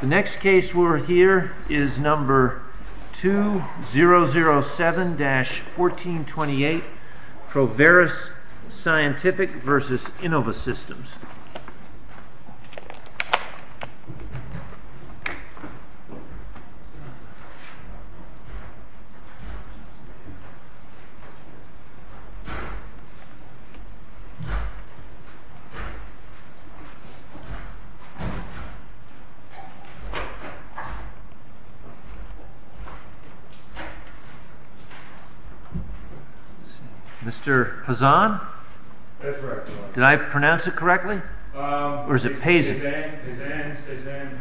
The next case we're here is number 2007-1428 Proveris Scientific v. Innovasystems Mr. Pazan? Did I pronounce it correctly? Or is it Pazan?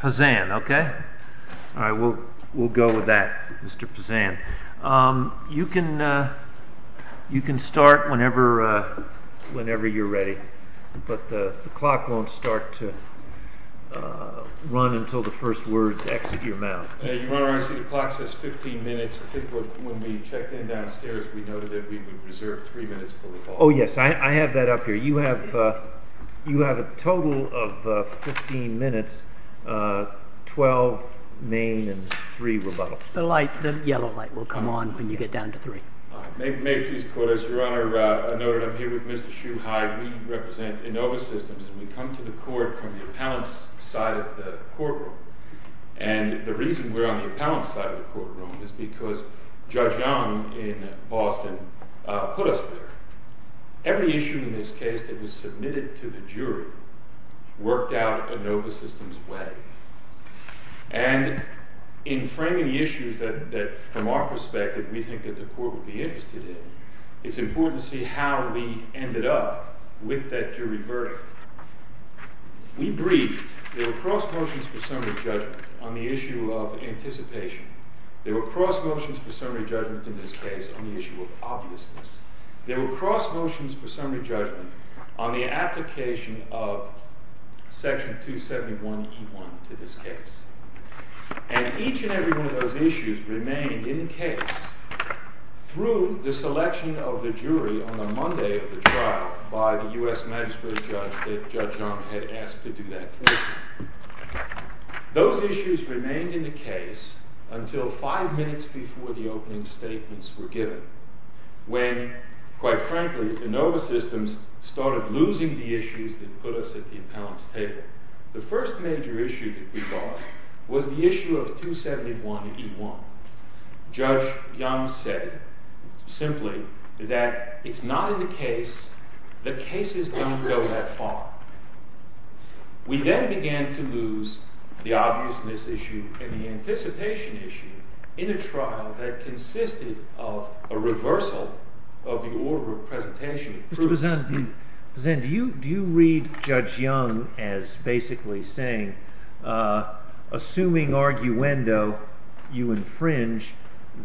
Pazan, okay. We'll go with that, Mr. Pazan. You can start whenever you're ready, but the clock won't start to run until the first word exits your mouth. Your Honor, I see the clock says 15 minutes. I think when we checked in downstairs, we noted that we would reserve 3 minutes for the call. Oh, yes. I have that up here. You have a total of 15 minutes, 12 main and 3 rebuttal. The yellow light will come on when you get down to 3. May it please the Court. As Your Honor noted, I'm here with Mr. Schuheidt. We represent Innovasystems, and we come to the Court from the appellant's side of the courtroom. And the reason we're on the appellant's side of the courtroom is because Judge Young in Boston put us there. Every issue in this case that was submitted to the jury worked out Innovasystems' way. And in framing the issues that, from our perspective, we think that the Court would be interested in, it's important to see how we ended up with that jury verdict. We briefed. There were cross motions for summary judgment on the issue of anticipation. There were cross motions for summary judgment in this case on the issue of obviousness. There were cross motions for summary judgment on the application of Section 271E1 to this case. And each and every one of those issues remained in the case through the selection of the jury on the Monday of the trial by the U.S. Magistrate Judge that Judge Young had asked to do that for him. Those issues remained in the case until five minutes before the opening statements were given, when, quite frankly, Innovasystems started losing the issues that put us at the appellant's table. The first major issue that we lost was the issue of 271E1. Judge Young said, simply, that it's not in the case, the cases don't go that far. We then began to lose the obviousness issue and the anticipation issue in a trial that consisted of a reversal of the order of presentation of proofs. Do you read Judge Young as basically saying, assuming arguendo, you infringe,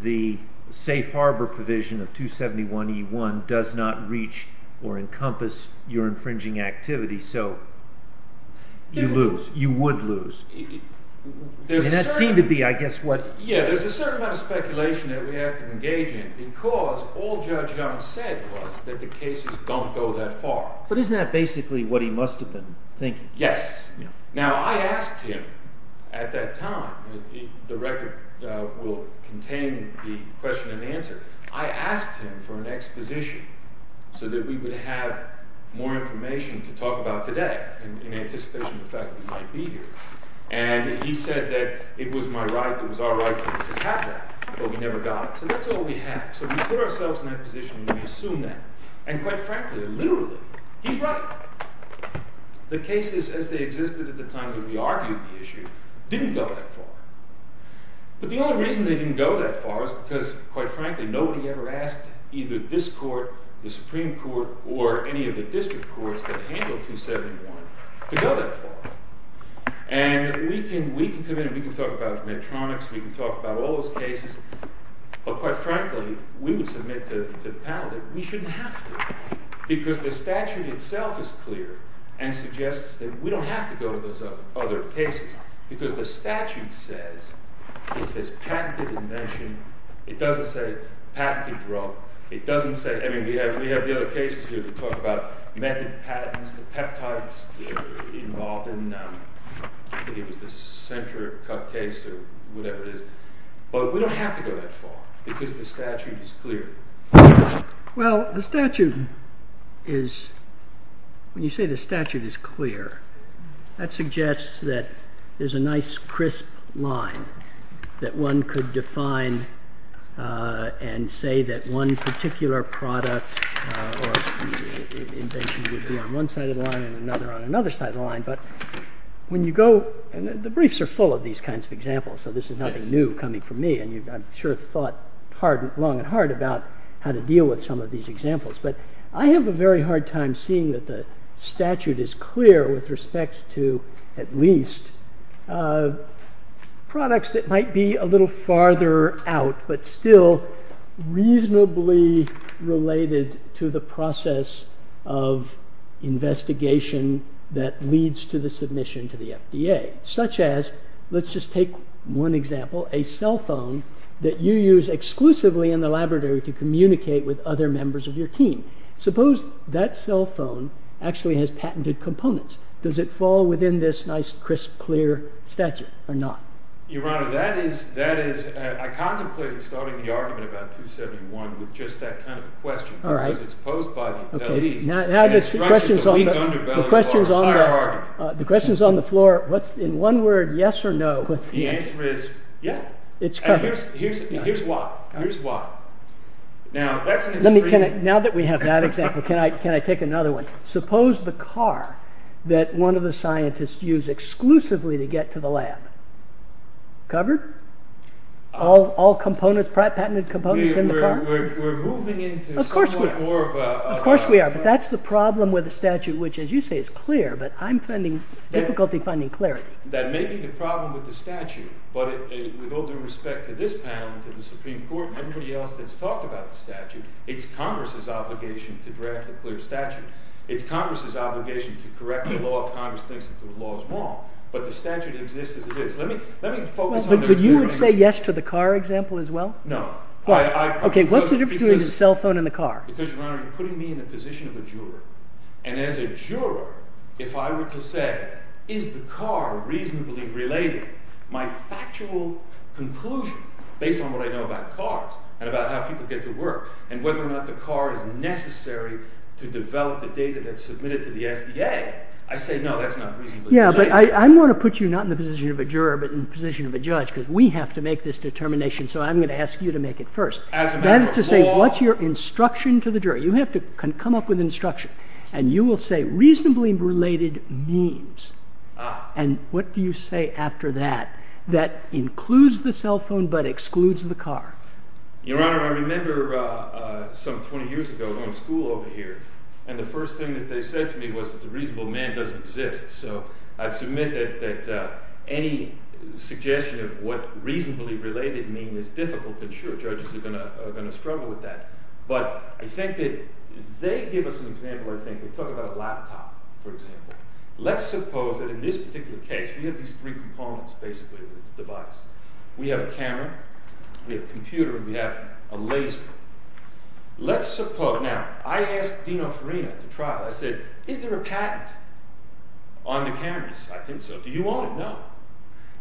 the safe harbor provision of 271E1 does not reach or encompass your infringing activity, so you lose, you would lose? And that seemed to be, I guess, what… Yeah, there's a certain amount of speculation that we have to engage in because all Judge Young said was that the cases don't go that far. But isn't that basically what he must have been thinking? Now, I asked him at that time, the record will contain the question and answer, I asked him for an exposition so that we would have more information to talk about today in anticipation of the fact that we might be here. And he said that it was my right, it was our right to have that, but we never got it. So that's all we have. So we put ourselves in that position and we assume that. And, quite frankly, literally, he's right. The cases, as they existed at the time that we argued the issue, didn't go that far. But the only reason they didn't go that far was because, quite frankly, nobody ever asked either this court, the Supreme Court, or any of the district courts that handled 271 to go that far. And we can come in and we can talk about Medtronics, we can talk about all those cases, but, quite frankly, we would submit to the panel that we shouldn't have to. Because the statute itself is clear and suggests that we don't have to go to those other cases. Because the statute says, it says patented invention. It doesn't say patented drug. It doesn't say, I mean, we have the other cases here that talk about method patents, the peptides involved in, I think it was the center cut case or whatever it is. But we don't have to go that far because the statute is clear. Well, the statute is, when you say the statute is clear, that suggests that there's a nice crisp line that one could define and say that one particular product or invention would be on one side of the line and another on another side of the line. But when you go, and the briefs are full of these kinds of examples, so this is nothing new coming from me. And I'm sure you've thought long and hard about how to deal with some of these examples. But I have a very hard time seeing that the statute is clear with respect to at least products that might be a little farther out, but still reasonably related to the process of investigation that leads to the submission to the FDA. Such as, let's just take one example, a cell phone that you use exclusively in the laboratory to communicate with other members of your team. Suppose that cell phone actually has patented components. Does it fall within this nice, crisp, clear statute or not? Your Honor, that is, I contemplated starting the argument about 271 with just that kind of question. All right. Because it's posed by the attorneys. Now the question is on the floor, what's in one word, yes or no? The answer is, yeah. It's correct. Here's why. Now, that's an extreme. Now that we have that example, can I take another one? Suppose the car that one of the scientists used exclusively to get to the lab. Covered? All patented components in the car? We're moving into somewhat more of a... Of course we are. But that's the problem with the statute, which as you say is clear, but I'm finding difficulty finding clarity. That may be the problem with the statute. But with all due respect to this panel and to the Supreme Court and everybody else that's talked about the statute, it's Congress's obligation to draft a clear statute. It's Congress's obligation to correct the law if Congress thinks that the law is wrong. But the statute exists as it is. Let me focus on the... But you would say yes to the car example as well? No. OK, what's the difference between the cell phone and the car? Because, Your Honor, you're putting me in the position of a juror. And as a juror, if I were to say, is the car reasonably related? My factual conclusion based on what I know about cars and about how people get to work and whether or not the car is necessary to develop the data that's submitted to the FDA, I say no, that's not reasonably related. Yeah, but I want to put you not in the position of a juror, but in the position of a judge because we have to make this determination, so I'm going to ask you to make it first. As a matter of law... That is to say, what's your instruction to the jury? You have to come up with instruction. And you will say, reasonably related means. Ah. And what do you say after that? That includes the cell phone but excludes the car. Your Honor, I remember some 20 years ago going to school over here, and the first thing that they said to me was that the reasonable man doesn't exist. So I submit that any suggestion of what reasonably related means is difficult. And sure, judges are going to struggle with that. But I think that they give us an example where they talk about a laptop, for example. Let's suppose that in this particular case we have these three components, basically, of the device. We have a camera, we have a computer, and we have a laser. Let's suppose, now, I asked Dean Oferina to try it. I said, is there a patent on the cameras? I think so. Do you own it? No.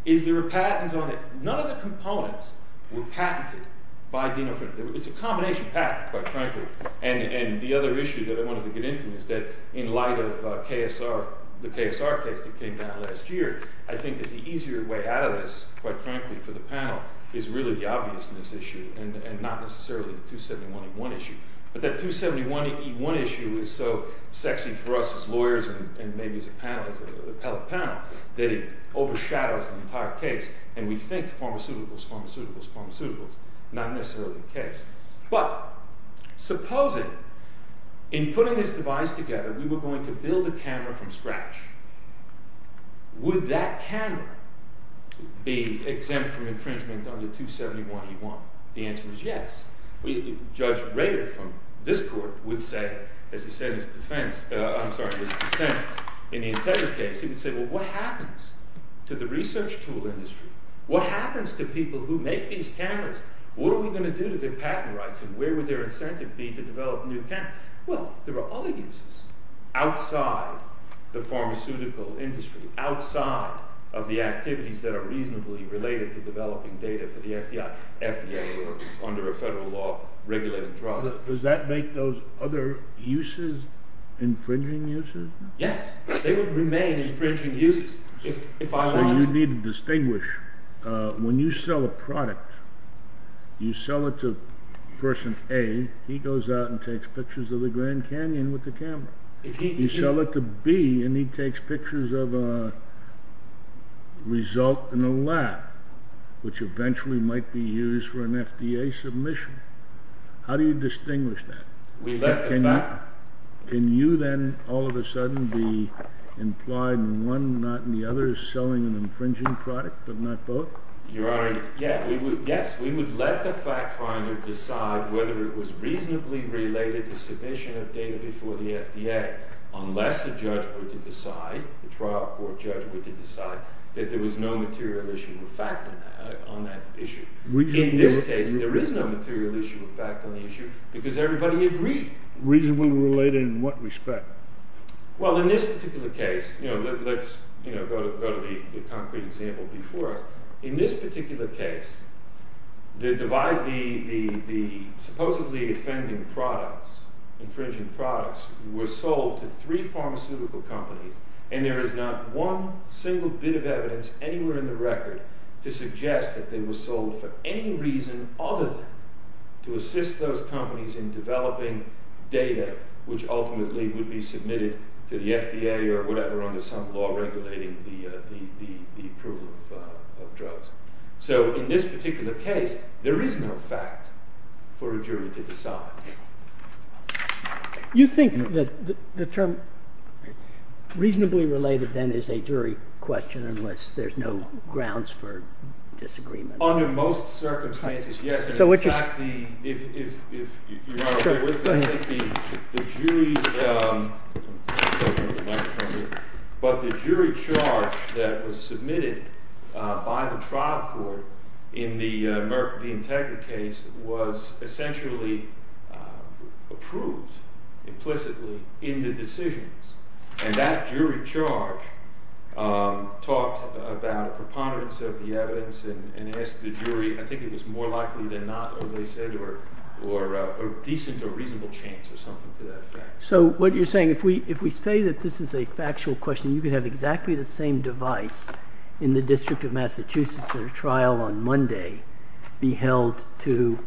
Is there a patent on it? None of the components were patented by Dean Oferina. It's a combination patent, quite frankly. And the other issue that I wanted to get into is that in light of the KSR case that came down last year, I think that the easier way out of this, quite frankly, for the panel, is really the obviousness issue and not necessarily the 271E1 issue. But that 271E1 issue is so sexy for us as lawyers and maybe as a panel, as an appellate panel, that it overshadows the entire case. And we think pharmaceuticals, pharmaceuticals, pharmaceuticals. Not necessarily the case. But supposing, in putting this device together, we were going to build a camera from scratch. Would that camera be exempt from infringement under 271E1? The answer is yes. Judge Rader from this court would say, as he said in his defense, I'm sorry, his dissent, in the entire case, he would say, well, what happens to the research tool industry? What happens to people who make these cameras? What are we going to do to their patent rights? And where would their incentive be to develop a new camera? Well, there are other uses outside the pharmaceutical industry, outside of the activities that are reasonably related to developing data for the FDA. FDA under a federal law regulating drugs. Does that make those other uses infringing uses? Yes. They would remain infringing uses. So you need to distinguish. When you sell a product, you sell it to person A, he goes out and takes pictures of the Grand Canyon with the camera. You sell it to B, and he takes pictures of a result in a lab, which eventually might be used for an FDA submission. How do you distinguish that? Can you then all of a sudden be implied in one, not in the other, selling an infringing product, but not both? Your Honor, yes, we would let the fact finder decide whether it was reasonably related to submission of data before the FDA, unless the judge were to decide, the trial court judge were to decide, that there was no material issue of fact on that issue. In this case, there is no material issue of fact on the issue, because everybody agreed. Reasonably related in what respect? Well, in this particular case, let's go to the concrete example before us. In this particular case, the divide, the supposedly offending products, infringing products, were sold to three pharmaceutical companies, and there is not one single bit of evidence anywhere in the record to suggest that they were sold for any reason other than to assist those companies in developing data, which ultimately would be submitted to the FDA or whatever under some law regulating the approval of drugs. So, in this particular case, there is no fact for a jury to decide. You think that the term reasonably related, then, is a jury question, unless there's no grounds for disagreement? Under most circumstances, yes. But the jury charge that was submitted by the trial court in the Integra case was essentially approved, implicitly, in the decisions. And that jury charge talked about a preponderance of the evidence and asked the jury, I think it was more likely than not, or they said, or a decent or reasonable chance or something to that effect. So, what you're saying, if we say that this is a factual question, you could have exactly the same device in the District of Massachusetts, the trial on Monday, be held to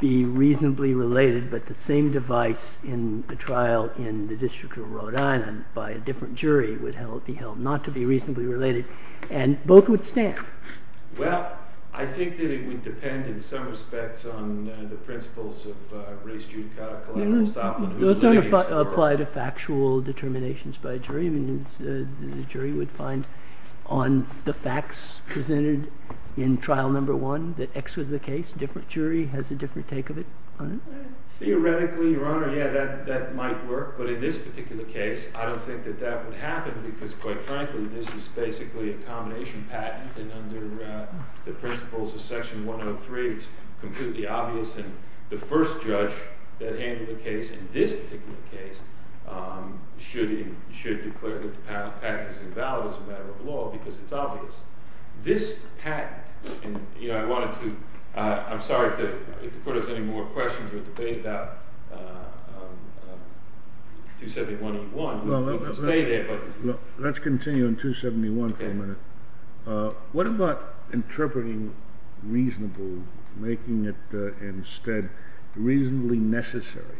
be reasonably related, but the same device in the trial in the District of Rhode Island by a different jury would be held not to be reasonably related. And both would stand. Well, I think that it would depend, in some respects, on the principles of Reis, Giudicata, Collette, and Stoplin. Those don't apply to factual determinations by a jury. I mean, the jury would find on the facts presented in trial number one that X was the case. A different jury has a different take of it. Theoretically, Your Honor, yeah, that might work. But in this particular case, I don't think that that would happen because, quite frankly, this is basically a combination patent. And under the principles of Section 103, it's completely obvious. And the first judge that handled the case in this particular case should declare that the patent is invalid as a matter of law because it's obvious. This patent – and, you know, I wanted to – I'm sorry to put us in more questions or debate about 271E1. Let's continue on 271 for a minute. What about interpreting reasonable, making it instead reasonably necessary?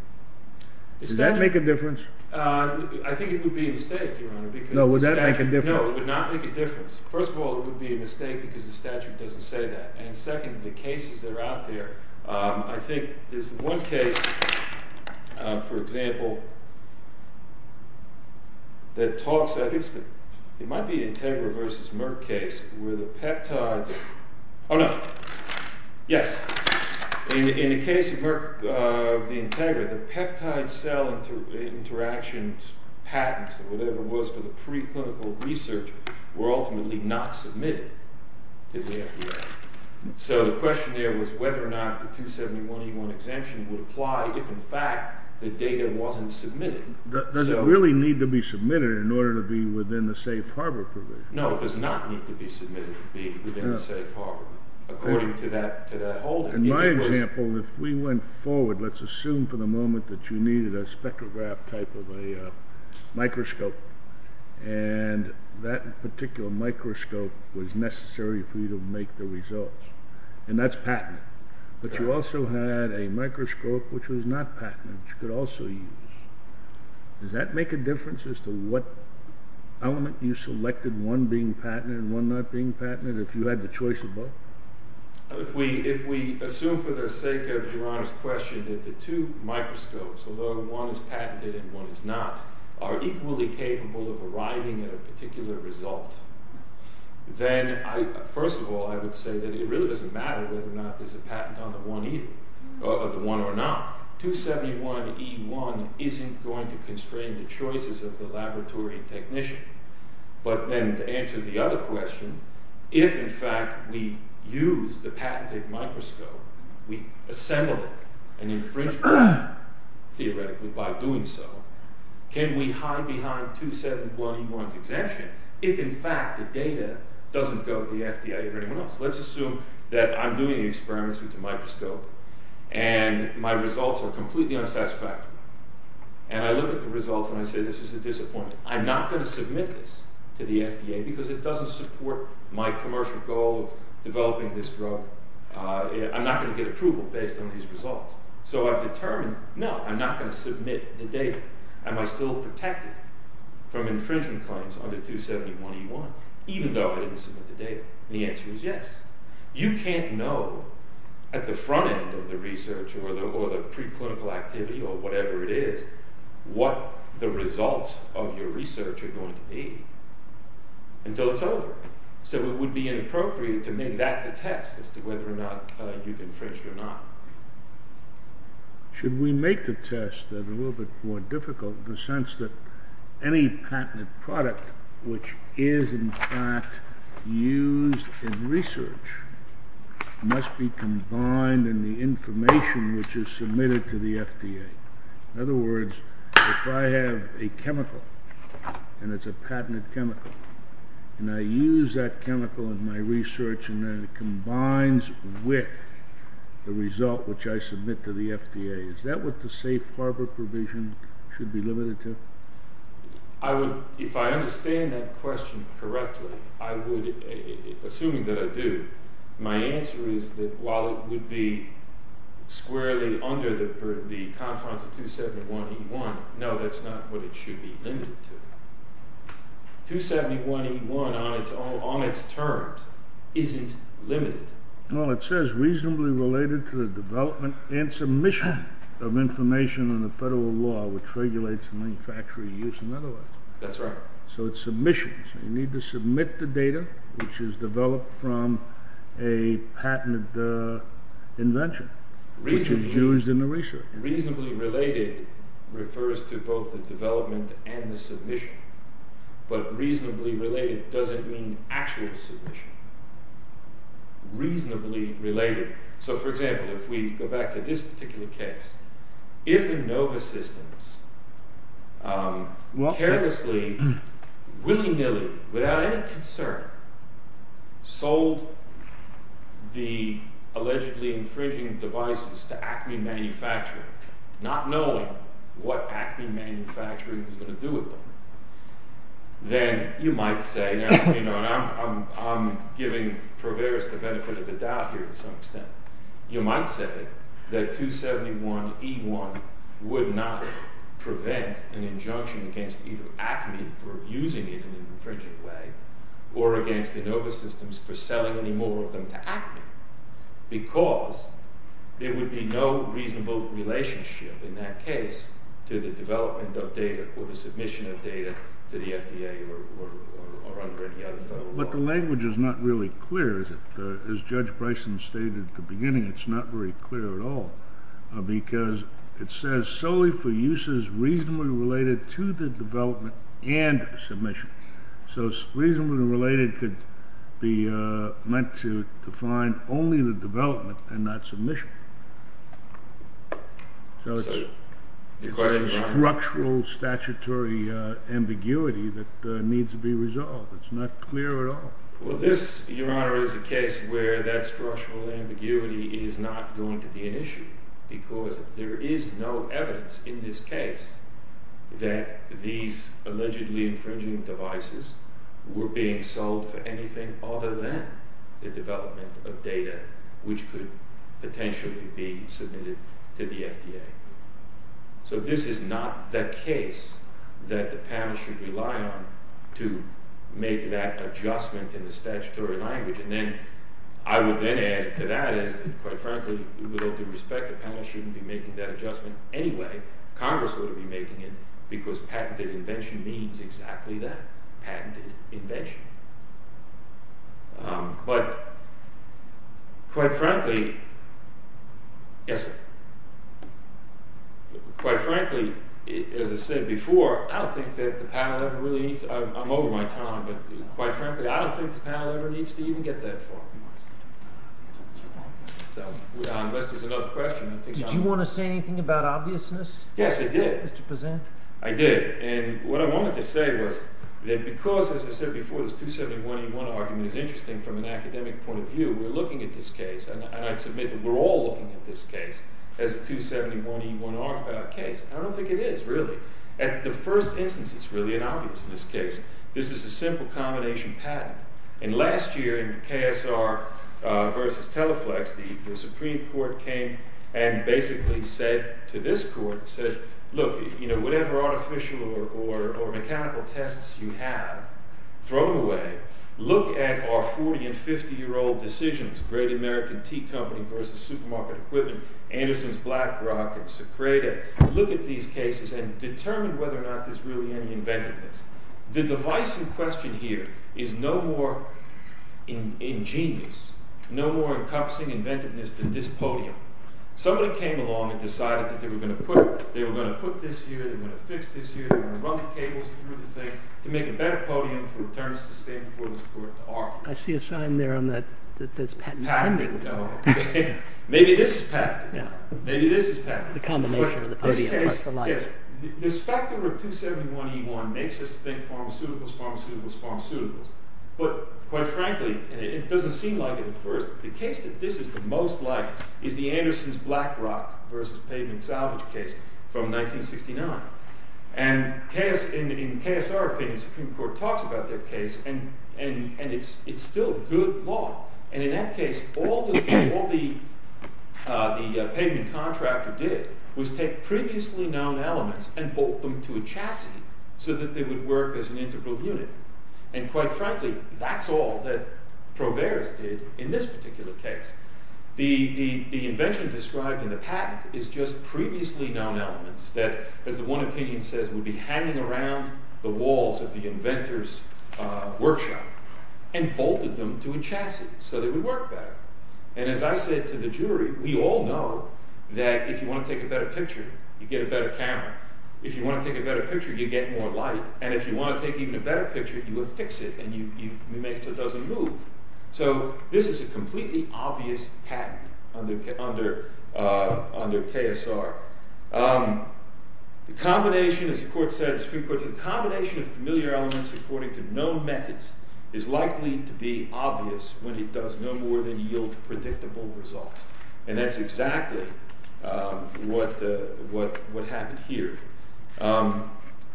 Does that make a difference? I think it would be a mistake, Your Honor. No, would that make a difference? No, it would not make a difference. First of all, it would be a mistake because the statute doesn't say that. And second, the cases that are out there – I think there's one case, for example, that talks – it might be an Integra versus Merck case where the peptides – oh, no. Yes. In the case of Merck v. Integra, the peptide cell interactions patents or whatever it was for the preclinical research were ultimately not submitted to the FDA. So the question there was whether or not the 271E1 exemption would apply if, in fact, the data wasn't submitted. Does it really need to be submitted in order to be within the safe harbor provision? No, it does not need to be submitted to be within the safe harbor according to that holding. In my example, if we went forward, let's assume for the moment that you needed a spectrograph type of a microscope, and that particular microscope was necessary for you to make the results, and that's patented. But you also had a microscope which was not patented which you could also use. Does that make a difference as to what element you selected, one being patented and one not being patented, if you had the choice of both? If we assume for the sake of Your Honor's question that the two microscopes, although one is patented and one is not, are equally capable of arriving at a particular result, then, first of all, I would say that it really doesn't matter whether or not there's a patent on the one or not. 271E1 isn't going to constrain the choices of the laboratory technician. But then, to answer the other question, if, in fact, we used the patented microscope, we assembled it and infringed on it, theoretically, by doing so, can we hide behind 271E1's exemption if, in fact, the data doesn't go to the FDA or anyone else? Let's assume that I'm doing experiments with the microscope and my results are completely unsatisfactory. And I look at the results and I say, this is a disappointment. I'm not going to submit this to the FDA because it doesn't support my commercial goal of developing this drug. I'm not going to get approval based on these results. So I've determined, no, I'm not going to submit the data. Am I still protected from infringement claims under 271E1, even though I didn't submit the data? And the answer is yes. You can't know at the front end of the research or the preclinical activity or whatever it is what the results of your research are going to be until it's over. So it would be inappropriate to make that the test as to whether or not you've infringed or not. Should we make the test a little bit more difficult in the sense that any patented product which is, in fact, used in research must be combined in the information which is submitted to the FDA? In other words, if I have a chemical and it's a patented chemical and I use that chemical in my research and then it combines with the result which I submit to the FDA, is that what the safe harbor provision should be limited to? If I understand that question correctly, assuming that I do, my answer is that while it would be squarely under the confines of 271E1, no, that's not what it should be limited to. 271E1 on its terms isn't limited. Well, it says reasonably related to the development and submission of information in the federal law which regulates the manufacturing use and otherwise. That's right. So it's submissions. You need to submit the data which is developed from a patented invention which is used in the research. Reasonably related refers to both the development and the submission. But reasonably related doesn't mean actual submission. Reasonably related. So, for example, if we go back to this particular case, if Inova Systems carelessly, willy-nilly, without any concern, sold the allegedly infringing devices to Acme Manufacturing not knowing what Acme Manufacturing was going to do with them, then you might say, and I'm giving Proveris the benefit of the doubt here to some extent, you might say that 271E1 would not prevent an injunction against either Acme for abusing it in an infringing way or against Inova Systems for selling any more of them to Acme because there would be no reasonable relationship in that case to the development of data or the submission of data to the FDA or under any other federal law. But the language is not really clear, is it? As Judge Bryson stated at the beginning, it's not very clear at all because it says solely for uses reasonably related to the development and submission. So reasonably related could be meant to define only the development and not submission. So it's a structural statutory ambiguity that needs to be resolved. It's not clear at all. Well, this, Your Honor, is a case where that structural ambiguity is not going to be an issue because there is no evidence in this case that these allegedly infringing devices were being sold for anything other than the development of data which could potentially be submitted to the FDA. So this is not the case that the panel should rely on to make that adjustment in the statutory language. And then I would then add to that is, quite frankly, with all due respect, the panel shouldn't be making that adjustment anyway. Congress would be making it because patented invention means exactly that, patented invention. But quite frankly, as I said before, I don't think that the panel ever really needs – I'm over my time, but quite frankly, I don't think the panel ever needs to even get that far. Unless there's another question. Did you want to say anything about obviousness? Yes, I did. Mr. Prezant? I did, and what I wanted to say was that because, as I said before, this 271E1 argument is interesting from an academic point of view, we're looking at this case, and I'd submit that we're all looking at this case as a 271E1 case, and I don't think it is really. At the first instance, it's really an obviousness case. This is a simple combination patent. And last year in KSR v. Teleflex, the Supreme Court came and basically said to this court, said, look, whatever artificial or mechanical tests you have thrown away, look at our 40- and 50-year-old decisions, Great American Tea Company v. Supermarket Equipment, Anderson's Blackrock, and Secreta. Look at these cases and determine whether or not there's really any inventiveness. The device in question here is no more ingenious, no more encompassing inventiveness than this podium. Somebody came along and decided that they were going to put this here, they were going to fix this here, they were going to run the cables through the thing to make a better podium for attorneys to stand before this court to argue. I see a sign there that says patent. Patent. Maybe this is patent. Maybe this is patent. The combination of the podium plus the lights. The specter of 271E1 makes us think pharmaceuticals, pharmaceuticals, pharmaceuticals. But quite frankly, and it doesn't seem like it at first, the case that this is the most like is the Anderson's Blackrock v. Pavement Salvage case from 1969. And in KSR opinion, the Supreme Court talks about their case, and it's still good law. And in that case, all the pavement contractor did was take previously known elements and bolt them to a chassis so that they would work as an integral unit. And quite frankly, that's all that Proveris did in this particular case. The invention described in the patent is just previously known elements that, as the one opinion says, would be hanging around the walls of the inventor's workshop and bolted them to a chassis so they would work better. And as I said to the jury, we all know that if you want to take a better picture, you get a better camera. If you want to take a better picture, you get more light. And if you want to take even a better picture, you affix it and you make it so it doesn't move. So this is a completely obvious patent under KSR. The combination, as the Supreme Court said, the combination of familiar elements according to known methods is likely to be obvious when it does no more than yield predictable results. And that's exactly what happened here.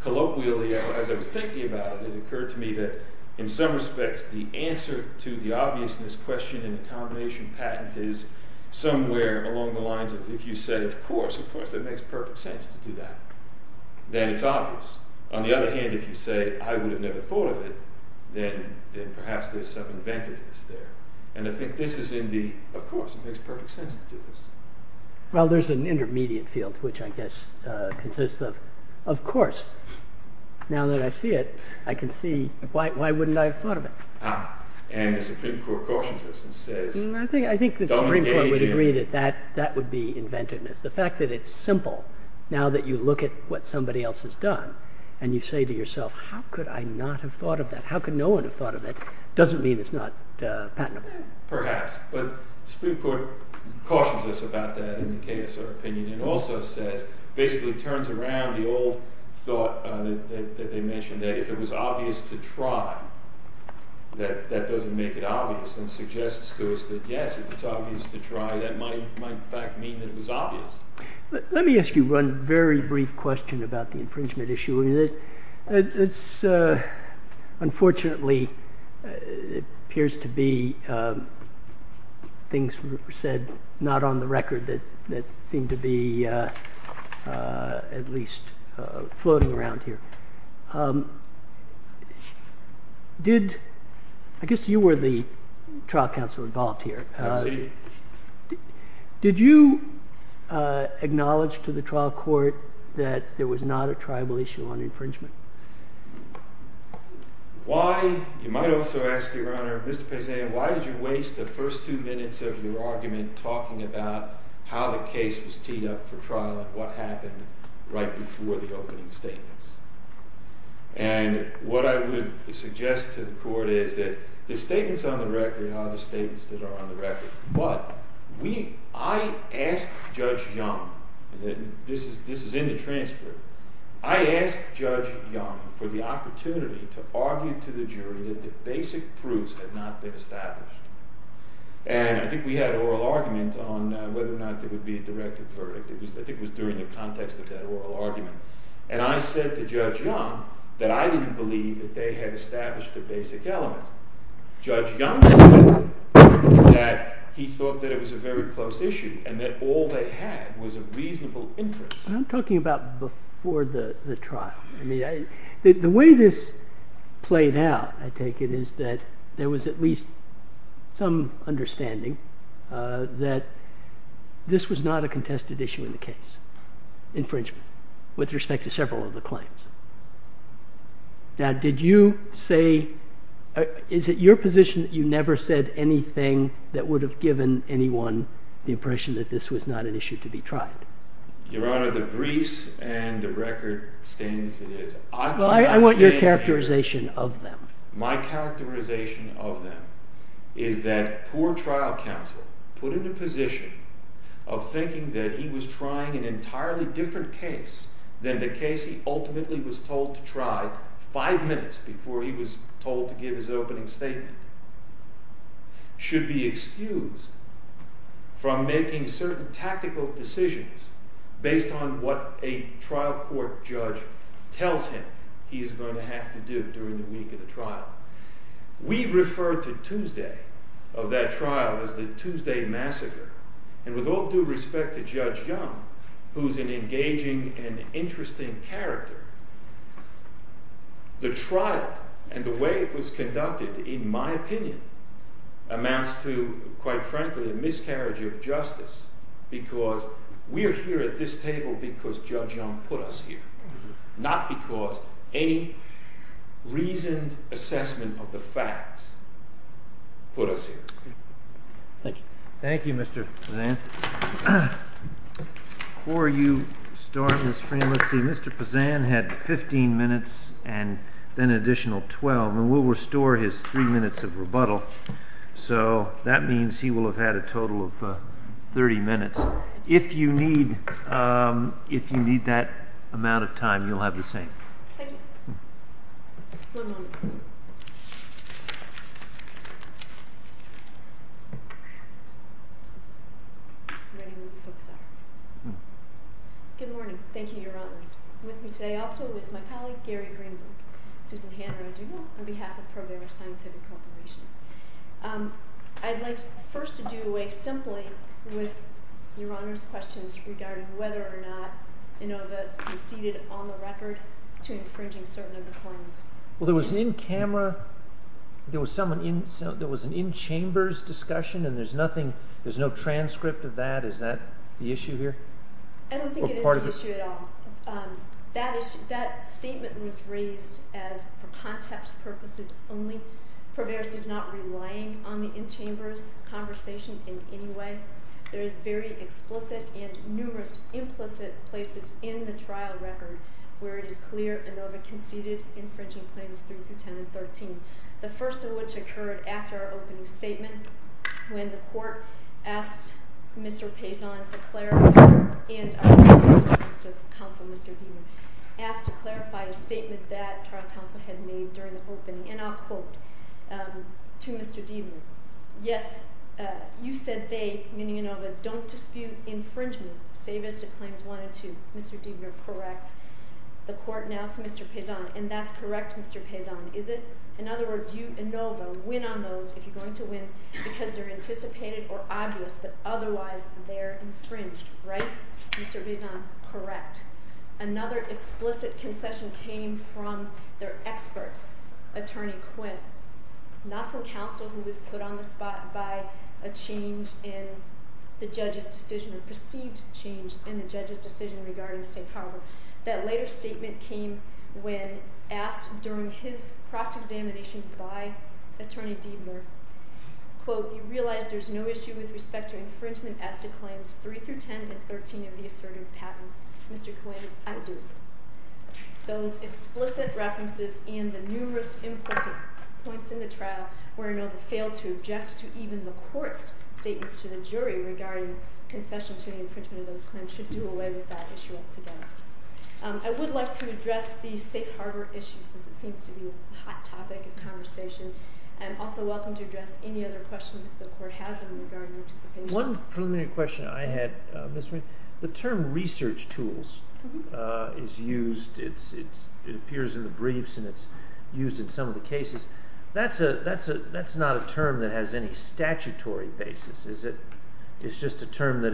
Colloquially, as I was thinking about it, it occurred to me that in some respects the answer to the obviousness question in the combination patent is somewhere along the lines of if you said, of course, of course, it makes perfect sense to do that, then it's obvious. On the other hand, if you say, I would have never thought of it, then perhaps there's some inventiveness there. And I think this is in the, of course, it makes perfect sense to do this. Well, there's an intermediate field, which I guess consists of, of course, now that I see it, I can see why wouldn't I have thought of it? And the Supreme Court cautions us and says, don't engage in it. I think the Supreme Court would agree that that would be inventiveness. The fact that it's simple, now that you look at what somebody else has done, and you say to yourself, how could I not have thought of that? How could no one have thought of it? Doesn't mean it's not patentable. Perhaps, but the Supreme Court cautions us about that in the case of opinion and also says, basically turns around the old thought that they mentioned that if it was obvious to try, that doesn't make it obvious and suggests to us that, yes, if it's obvious to try, that might in fact mean that it was obvious. Let me ask you one very brief question about the infringement issue. Unfortunately, it appears to be things said not on the record that seem to be at least floating around here. I guess you were the trial counsel involved here. Did you acknowledge to the trial court that there was not a tribal issue on infringement? You might also ask, Your Honor, Mr. Pezzan, why did you waste the first two minutes of your argument talking about how the case was teed up for trial and what happened right before the opening statements? And what I would suggest to the court is that the statements on the record are the statements that are on the record. But I asked Judge Young, and this is in the transcript, I asked Judge Young for the opportunity to argue to the jury that the basic proofs had not been established. And I think we had an oral argument on whether or not there would be a directed verdict. I think it was during the context of that oral argument. And I said to Judge Young that I didn't believe that they had established the basic elements. Judge Young said that he thought that it was a very close issue and that all they had was a reasonable interest. I'm talking about before the trial. The way this played out, I take it, is that there was at least some understanding that this was not a contested issue in the case, infringement, with respect to several of the claims. Now, did you say, is it your position that you never said anything that would have given anyone the impression that this was not an issue to be tried? Your Honor, the briefs and the record stand as it is. Well, I want your characterization of them. My characterization of them is that poor trial counsel put in a position of thinking that he was trying an entirely different case than the case he ultimately was told to try five minutes before he was told to give his opening statement. Should be excused from making certain tactical decisions based on what a trial court judge tells him he is going to have to do during the week of the trial. We refer to Tuesday of that trial as the Tuesday massacre. And with all due respect to Judge Young, who's an engaging and interesting character, the trial and the way it was conducted, in my opinion, amounts to, quite frankly, a miscarriage of justice because we are here at this table because Judge Young put us here, not because any reasoned assessment of the facts put us here. Thank you. Thank you, Mr. Pazan. Before you start, Ms. Freeman, let's see. Mr. Pazan had 15 minutes and then an additional 12, and we'll restore his three minutes of rebuttal. So that means he will have had a total of 30 minutes. If you need that amount of time, you'll have the same. Thank you. One moment. Ready when we focus on her. Good morning. Thank you, Your Honors. With me today also is my colleague, Gary Greenberg. Susan Hanna, as you know, on behalf of Program of Scientific Cooperation. I'd like first to do away simply with Your Honors' questions regarding whether or not Inova conceded on the record to infringing certain of the forms. Well, there was an in-camera, there was an in-chambers discussion, and there's nothing, there's no transcript of that. Is that the issue here? I don't think it is the issue at all. That statement was raised as for context purposes only. Proverbs is not relying on the in-chambers conversation in any way. There is very explicit and numerous implicit places in the trial record where it is clear Inova conceded infringing Claims 3 through 10 and 13, the first of which occurred after our opening statement when the court asked Mr. Paison to clarify, and our counsel, Mr. Demon, asked to clarify a statement that trial counsel had made during the opening, and I'll quote to Mr. Demon. Yes, you said they, meaning Inova, don't dispute infringement, save as to Claims 1 and 2. Mr. Demon, you're correct. The court now to Mr. Paison, and that's correct, Mr. Paison, is it? In other words, you, Inova, win on those if you're going to win because they're anticipated or obvious, but otherwise they're infringed, right? Mr. Paison, correct. Another explicit concession came from their expert, Attorney Quinn, not from counsel who was put on the spot by a change in the judge's decision, a perceived change in the judge's decision regarding St. Howard. That later statement came when asked during his cross-examination by Attorney Demon, quote, we realize there's no issue with respect to infringement as to Claims 3 through 10 and 13 of the assertive patent. Mr. Quinn, I do. Those explicit references in the numerous implicit points in the trial where Inova failed to object to even the court's statements to the jury regarding concession to the infringement of those claims should do away with that issue altogether. I would like to address the safe harbor issue since it seems to be a hot topic of conversation. I'm also welcome to address any other questions if the court has them in regard to participation. One preliminary question I had, Ms. Winn, the term research tools is used. It appears in the briefs and it's used in some of the cases. That's not a term that has any statutory basis. It's just a term that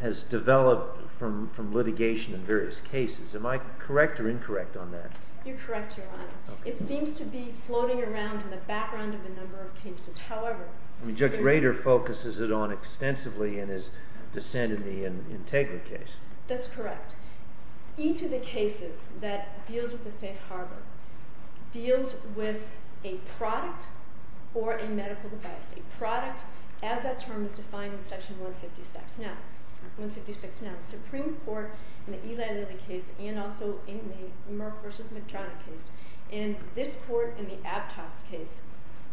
has developed from litigation in various cases. Am I correct or incorrect on that? You're correct, Your Honor. It seems to be floating around in the background of a number of cases. Judge Rader focuses it on extensively in his dissent in the Integra case. That's correct. Each of the cases that deals with the safe harbor deals with a product or a medical device. A product as that term is defined in section 156. The Supreme Court in the Eli Lilly case and also in the Merck v. Medrano case and this court in the Aptos case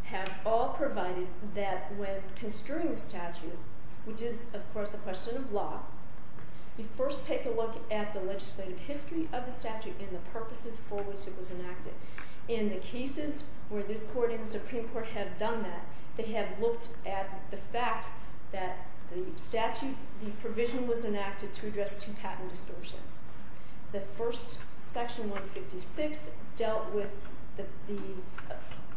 have all provided that when construing the statute, which is, of course, a question of law, you first take a look at the legislative history of the statute and the purposes for which it was enacted. In the cases where this court and the Supreme Court have done that, they have looked at the fact that the provision was enacted to address two patent distortions. The first, section 156, dealt with the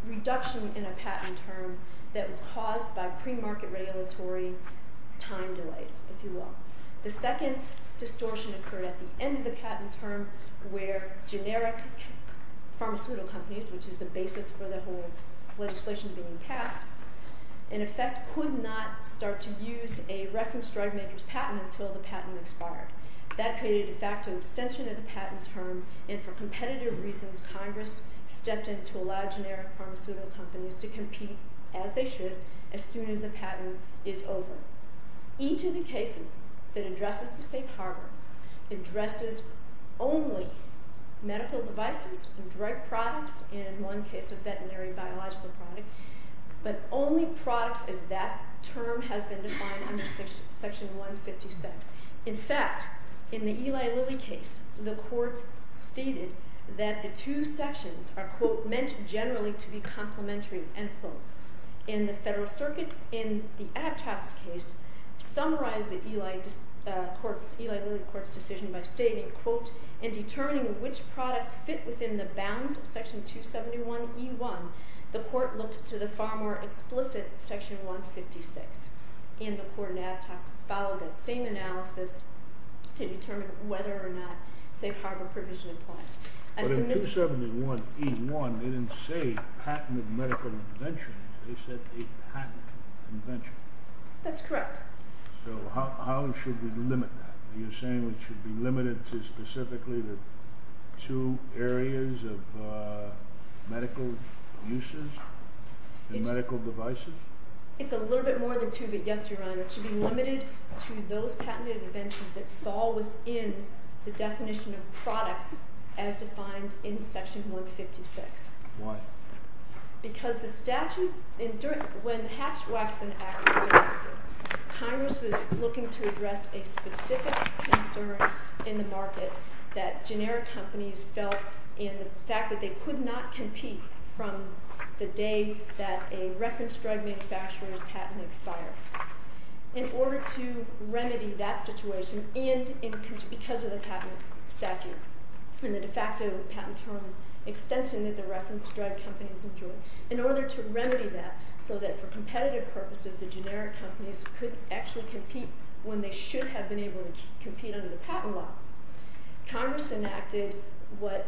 reduction in a patent term that was caused by premarket regulatory time delays, if you will. The second distortion occurred at the end of the patent term where generic pharmaceutical companies, which is the basis for the whole legislation being passed, in effect could not start to use a reference drug maker's patent until the patent expired. That created, in fact, an extension of the patent term, and for competitive reasons, Congress stepped in to allow generic pharmaceutical companies to compete as they should as soon as the patent is over. Each of the cases that addresses the safe harbor addresses only medical devices, drug products, and in one case, a veterinary biological product, but only products as that term has been defined under section 156. In fact, in the Eli Lilly case, the court stated that the two sections are, quote, summarize the Eli Lilly court's decision by stating, quote, in determining which products fit within the bounds of section 271E1, the court looked to the far more explicit section 156, and the court and ad hocs followed that same analysis to determine whether or not safe harbor provision applies. But in 271E1, they didn't say patented medical interventions. They said a patent convention. That's correct. So how should we limit that? Are you saying we should be limited to specifically the two areas of medical uses and medical devices? It's a little bit more than two, but yes, Your Honor. It should be limited to those patented interventions that fall within the definition of products as defined in section 156. Why? Because the statute, when the Hatch-Waxman Act was enacted, Congress was looking to address a specific concern in the market that generic companies felt in the fact that they could not compete from the day that a reference drug manufacturer's patent expired. In order to remedy that situation and because of the patent statute and the de facto patent term extension that the reference drug companies enjoy, in order to remedy that so that for competitive purposes the generic companies could actually compete when they should have been able to compete under the patent law, Congress enacted what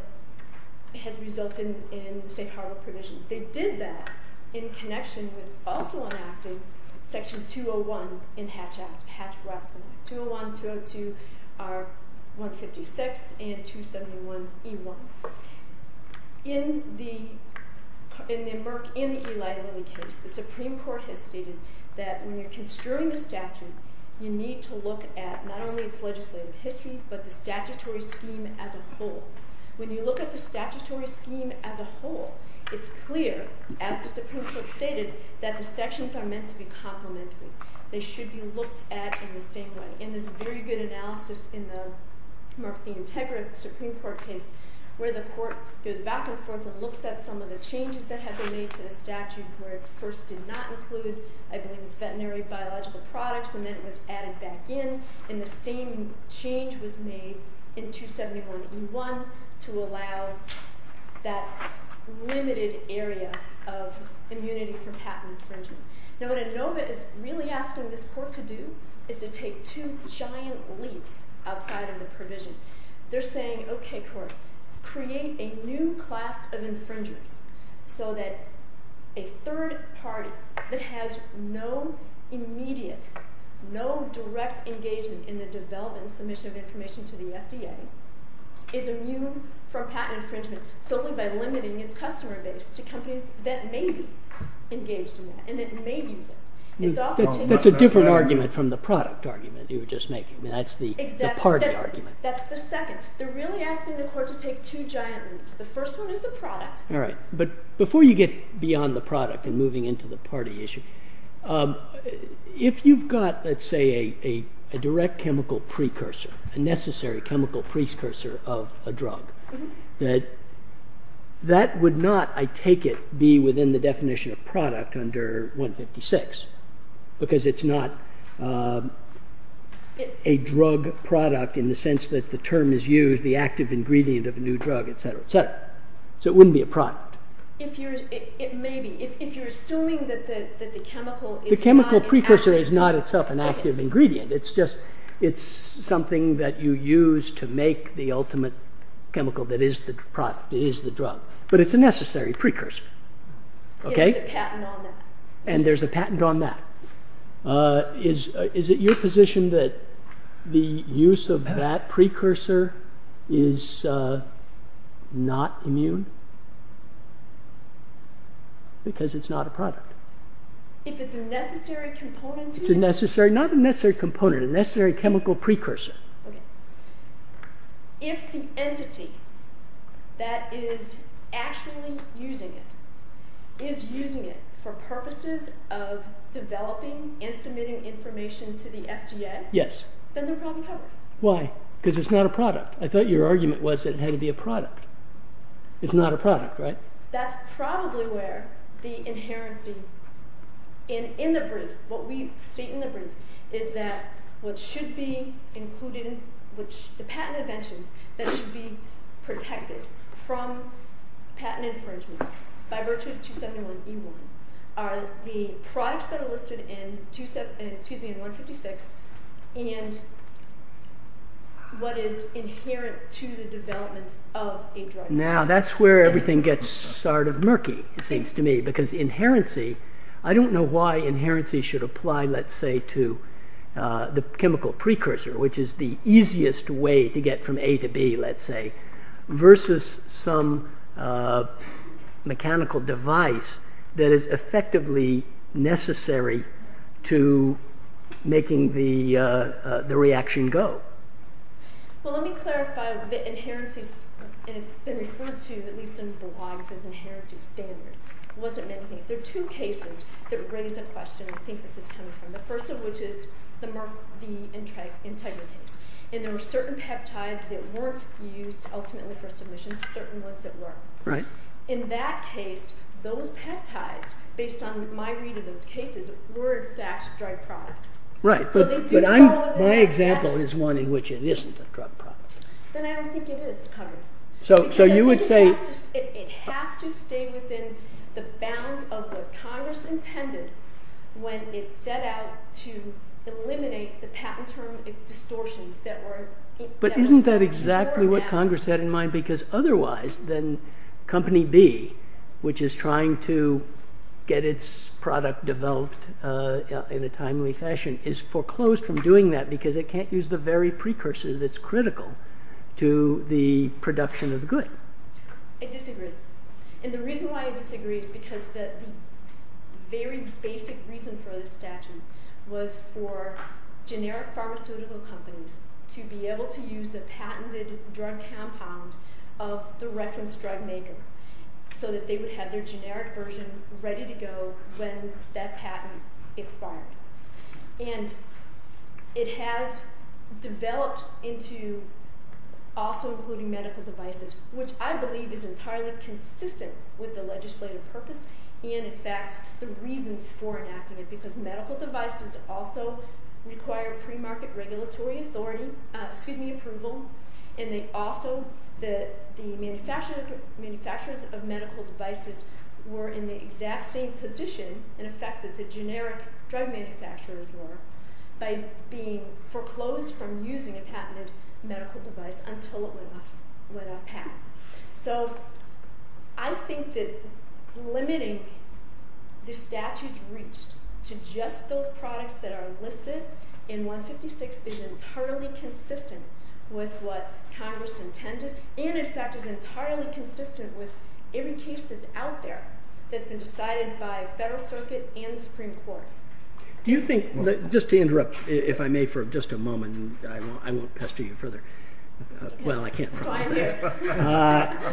has resulted in safe harbor provision. They did that in connection with also enacting section 201 in Hatch-Waxman Act. 201, 202 are 156 and 271E1. In the Murk and the Eli Lilly case, the Supreme Court has stated that when you're construing a statute, you need to look at not only its legislative history but the statutory scheme as a whole. When you look at the statutory scheme as a whole, it's clear, as the Supreme Court stated, that the sections are meant to be complementary. They should be looked at in the same way. And there's very good analysis in the Murk v. Integra Supreme Court case where the court goes back and forth and looks at some of the changes that have been made to the statute where it first did not include, I believe, its veterinary biological products, and then it was added back in, and the same change was made in 271E1 to allow that limited area of immunity for patent infringement. Now what ANOVA is really asking this court to do is to take two giant leaps outside of the provision. They're saying, okay, court, create a new class of infringers so that a third party that has no immediate, no direct engagement in the development and submission of information to the FDA is immune from patent infringement solely by limiting its customer base to companies that may be engaged in that and that may use it. That's a different argument from the product argument you were just making. That's the party argument. That's the second. They're really asking the court to take two giant leaps. The first one is the product. All right. But before you get beyond the product and moving into the party issue, if you've got, let's say, a direct chemical precursor, a necessary chemical precursor of a drug, that would not, I take it, be within the definition of product under 156 because it's not a drug product in the sense that the term is used, the active ingredient of a new drug, et cetera, et cetera. So it wouldn't be a product. Maybe. If you're assuming that the chemical is not an active drug. The chemical precursor is not itself an active ingredient. It's just something that you use to make the ultimate chemical that is the product, that is the drug. But it's a necessary precursor. There's a patent on that. And there's a patent on that. Is it your position that the use of that precursor is not immune? Because it's not a product. If it's a necessary component to it? It's a necessary. Not a necessary component. A necessary chemical precursor. Okay. If the entity that is actually using it for purposes of developing and submitting information to the FDA, then they're probably covered. Why? Because it's not a product. I thought your argument was that it had to be a product. It's not a product, right? That's probably where the inherency in the brief, what we state in the brief, is that what should be included in the patent inventions that should be protected from patent infringement by virtue of 271E1 are the products that are listed in 156 and what is inherent to the development of a drug. Now, that's where everything gets sort of murky, it seems to me. Because inherency, I don't know why inherency should apply, let's say, to the chemical precursor, which is the easiest way to get from A to B, let's say, versus some mechanical device that is effectively necessary to making the reaction go. Well, let me clarify that inherency, and it's been referred to at least in blogs as inherency standard, wasn't anything. There are two cases that raise a question I think this is coming from, the first of which is the Merck v. Integra case. And there were certain peptides that weren't used ultimately for submission, certain ones that were. In that case, those peptides, based on my read of those cases, were in fact drug products. Right, but my example is one in which it isn't a drug product. Then I don't think it is covered. So you would say... It has to stay within the bounds of what Congress intended when it set out to eliminate the patent term distortions that were... But isn't that exactly what Congress had in mind? Because otherwise, then Company B, which is trying to get its product developed in a timely fashion, is foreclosed from doing that because it can't use the very precursor that's critical to the production of the good. I disagree. And the reason why I disagree is because the very basic reason for this statute was for generic pharmaceutical companies to be able to use the patented drug compound of the reference drug maker so that they would have their generic version ready to go when that patent expired. And it has developed into also including medical devices, which I believe is entirely consistent with the legislative purpose and, in fact, the reasons for enacting it, because medical devices also require pre-market regulatory authority... Excuse me, approval. And they also... The manufacturers of medical devices were in the exact same position, in effect, that the generic drug manufacturers were by being foreclosed from using a patented medical device until it went off pat. So I think that limiting the statutes reached to just those products that are listed in 156 is entirely consistent with what Congress intended and, in fact, is entirely consistent with every case that's out there that's been decided by the Federal Circuit and the Supreme Court. Do you think... Just to interrupt, if I may, for just a moment, and I won't pester you further. Well, I can't propose that.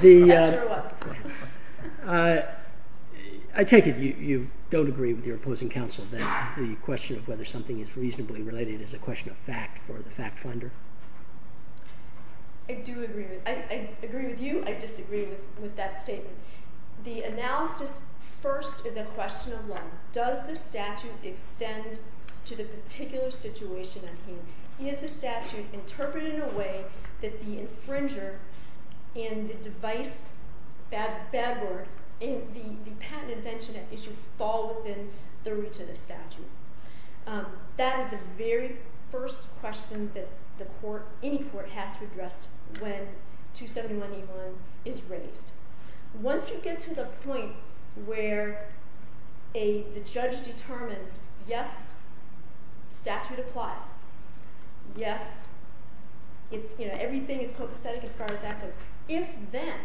Pester or what? I take it you don't agree with your opposing counsel that the question of whether something is reasonably related is a question of fact for the fact finder? I do agree with... I agree with you, I disagree with that statement. The analysis first is a question of law. Does the statute extend to the particular situation I'm hearing? Is the statute interpreted in a way that the infringer and the device, bad word, and the patent invention at issue fall within the reach of the statute? That is the very first question that the court, any court, has to address when 271A1 is raised. Once you get to the point where the judge determines, yes, statute applies, yes, everything is copacetic as far as that goes, if then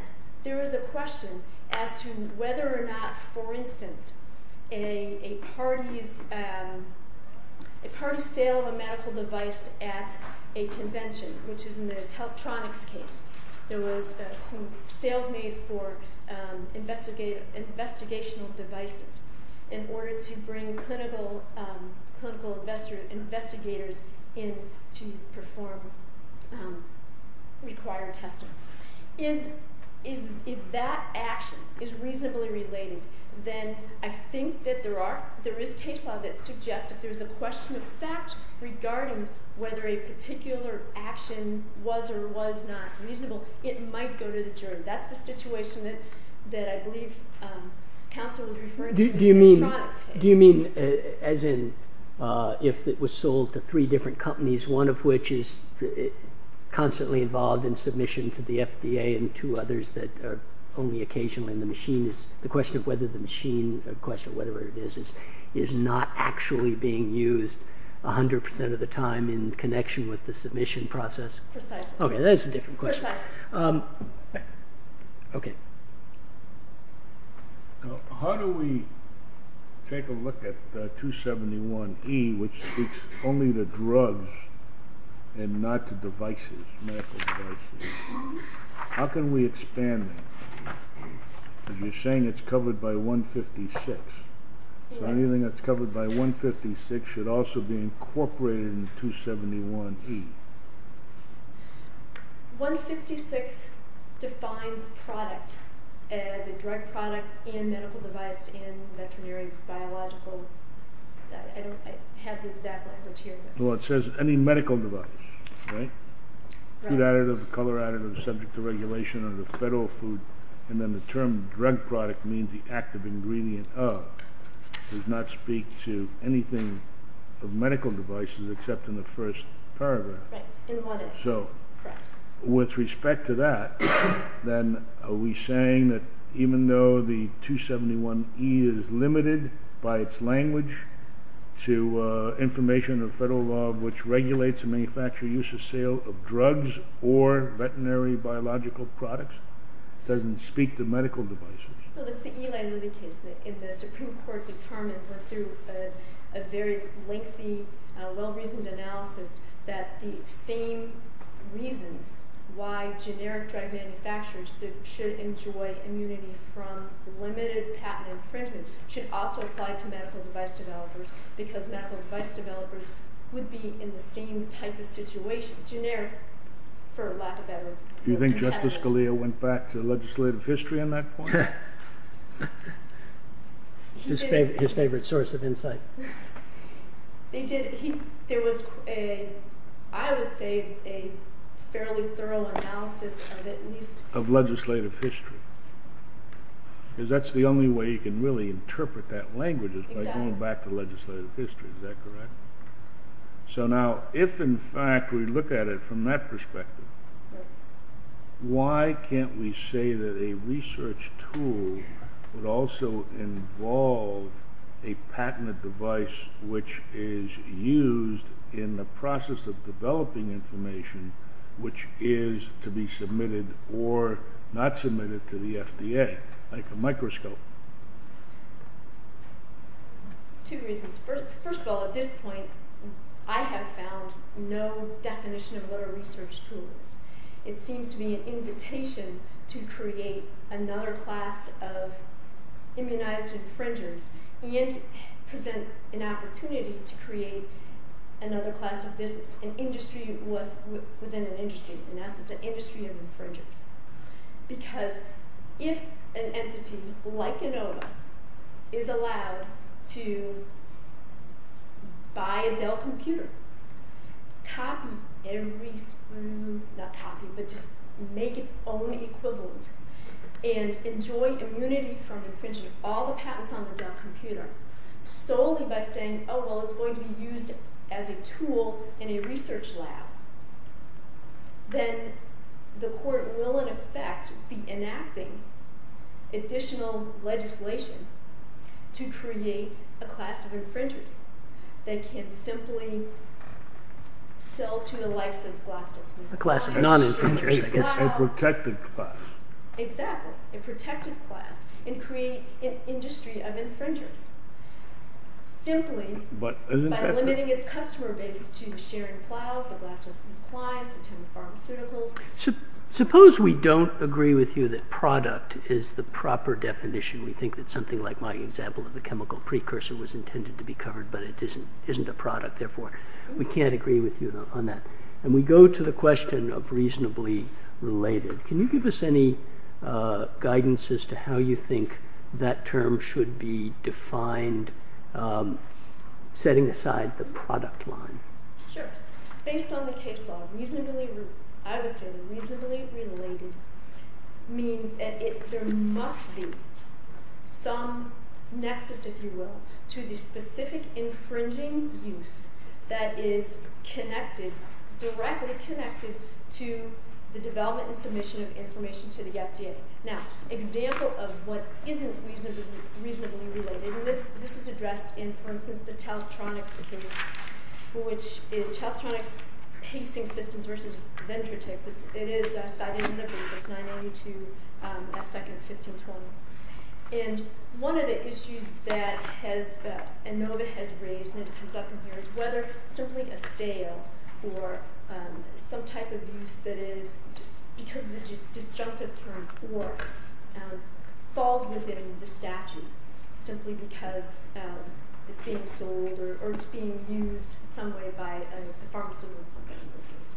there is a question as to whether or not, for instance, a party's sale of a medical device at a convention, which is in the Teletronics case, there was some sales made for investigational devices in order to bring clinical investigators in to perform required testing. If that action is reasonably related, then I think that there is case law that suggests if there's a question of fact regarding whether a particular action was or was not reasonable, it might go to the jury. That's the situation that I believe counsel was referring to. Do you mean as in if it was sold to three different companies, one of which is constantly involved in submission to the FDA and two others that are only occasionally in the machine? The question of whether the machine, the question of whether it is, is not actually being used 100% of the time in connection with the submission process? Precisely. Okay, that is a different question. How do we take a look at 271E, which speaks only to drugs and not to devices, medical devices? How can we expand that? You're saying it's covered by 156. So anything that's covered by 156 should also be incorporated in 271E. 156 defines product as a drug product and medical device and veterinary, biological. I don't have the exact language here. Well, it says any medical device, right? Food additive, color additive, subject to regulation under federal food. And then the term drug product means the active ingredient of. Does not speak to anything of medical devices except in the first paragraph. Right. So with respect to that, then are we saying that even though the 271E is limited by its language to information of federal law which regulates the manufacturer use of sale of drugs or veterinary biological products, it doesn't speak to medical devices. Well, that's the Eli Lilly case. The Supreme Court determined through a very lengthy, well-reasoned analysis that the same reasons why generic drug manufacturers should enjoy immunity from limited patent infringement should also apply to medical device developers because medical device developers would be in the same type of situation, generic for lack of better word. Do you think Justice Scalia went back to legislative history on that point? His favorite source of insight. He did. There was, I would say, a fairly thorough analysis of it. Of legislative history. Because that's the only way you can really interpret that language is by going back to legislative history. Is that correct? So now, if in fact we look at it from that perspective, why can't we say that a research tool would also involve a patented device which is used in the process of developing information which is to be submitted or not submitted to the FDA, like a microscope? Two reasons. First of all, at this point, I have found no definition of what a research tool is. It seems to be an invitation to create another class of immunized infringers and present an opportunity to create another class of business, an industry within an industry. And that's the industry of infringers. Because if an entity, like ANOVA, is allowed to buy a Dell computer, copy every screen, not copy, but just make its own equivalent, and enjoy immunity from infringing all the patents on the Dell computer solely by saying, oh, well, it's going to be used as a tool in a research lab, then the court will, in effect, be enacting additional legislation to create a class of infringers that can simply sell to the license classes. A class of non-infringers, I guess. A protected class. Exactly. A protected class. And create an industry of infringers. Simply by limiting its customer base to sharing files, a glass of wine, a ton of pharmaceuticals. Suppose we don't agree with you that product is the proper definition. We think that something like my example of the chemical precursor was intended to be covered, but it isn't a product. Therefore, we can't agree with you on that. And we go to the question of reasonably related. Can you give us any guidance as to how you think that term should be defined, setting aside the product line? Sure. Based on the case law, I would say reasonably related means that there must be some nexus, if you will, to the specific infringing use that is connected, directly connected to the development and submission of information to the FDA. Now, example of what isn't reasonably related, and this is addressed in, for instance, the Teletronix case, which is Teletronix pacing systems versus Ventrotex. It is cited in the paper. It's 982 F. 2nd, 1520. And one of the issues that ANOVA has raised, and it comes up in here, is whether simply a sale or some type of use that is just because of the disjunctive term or falls within the statute simply because it's being sold or it's being used in some way by a pharmaceutical company, in this case.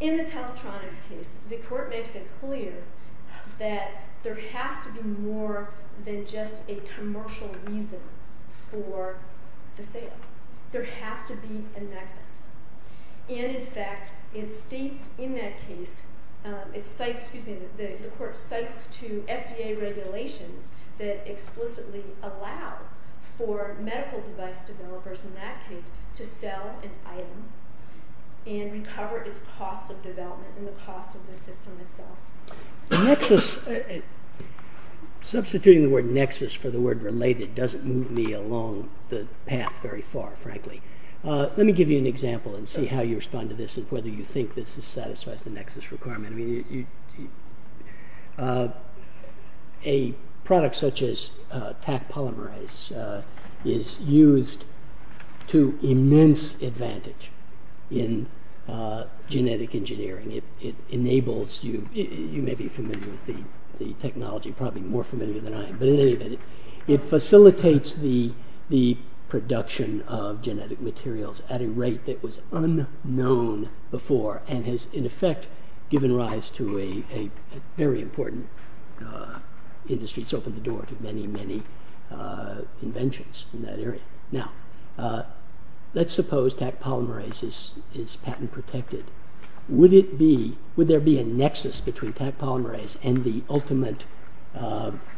In the Teletronix case, the court makes it clear that there has to be more than just a commercial reason for the sale. There has to be a nexus. And, in fact, it states in that case, it cites, excuse me, the court cites to FDA regulations that explicitly allow for medical device developers, in that case, to sell an item and recover its cost of development and the cost of the system itself. The nexus, substituting the word nexus for the word related doesn't move me along the path very far, frankly. Let me give you an example and see how you respond to this and whether you think this satisfies the nexus requirement. A product such as Taq polymerase is used to immense advantage in genetic engineering. It enables you, you may be familiar with the technology, probably more familiar than I am, but in any event, it facilitates the production of genetic materials at a rate that was unknown before and has, in effect, given rise to a very important industry. It's opened the door to many, many inventions in that area. Now, let's suppose Taq polymerase is patent protected. Would there be a nexus between Taq polymerase and the ultimate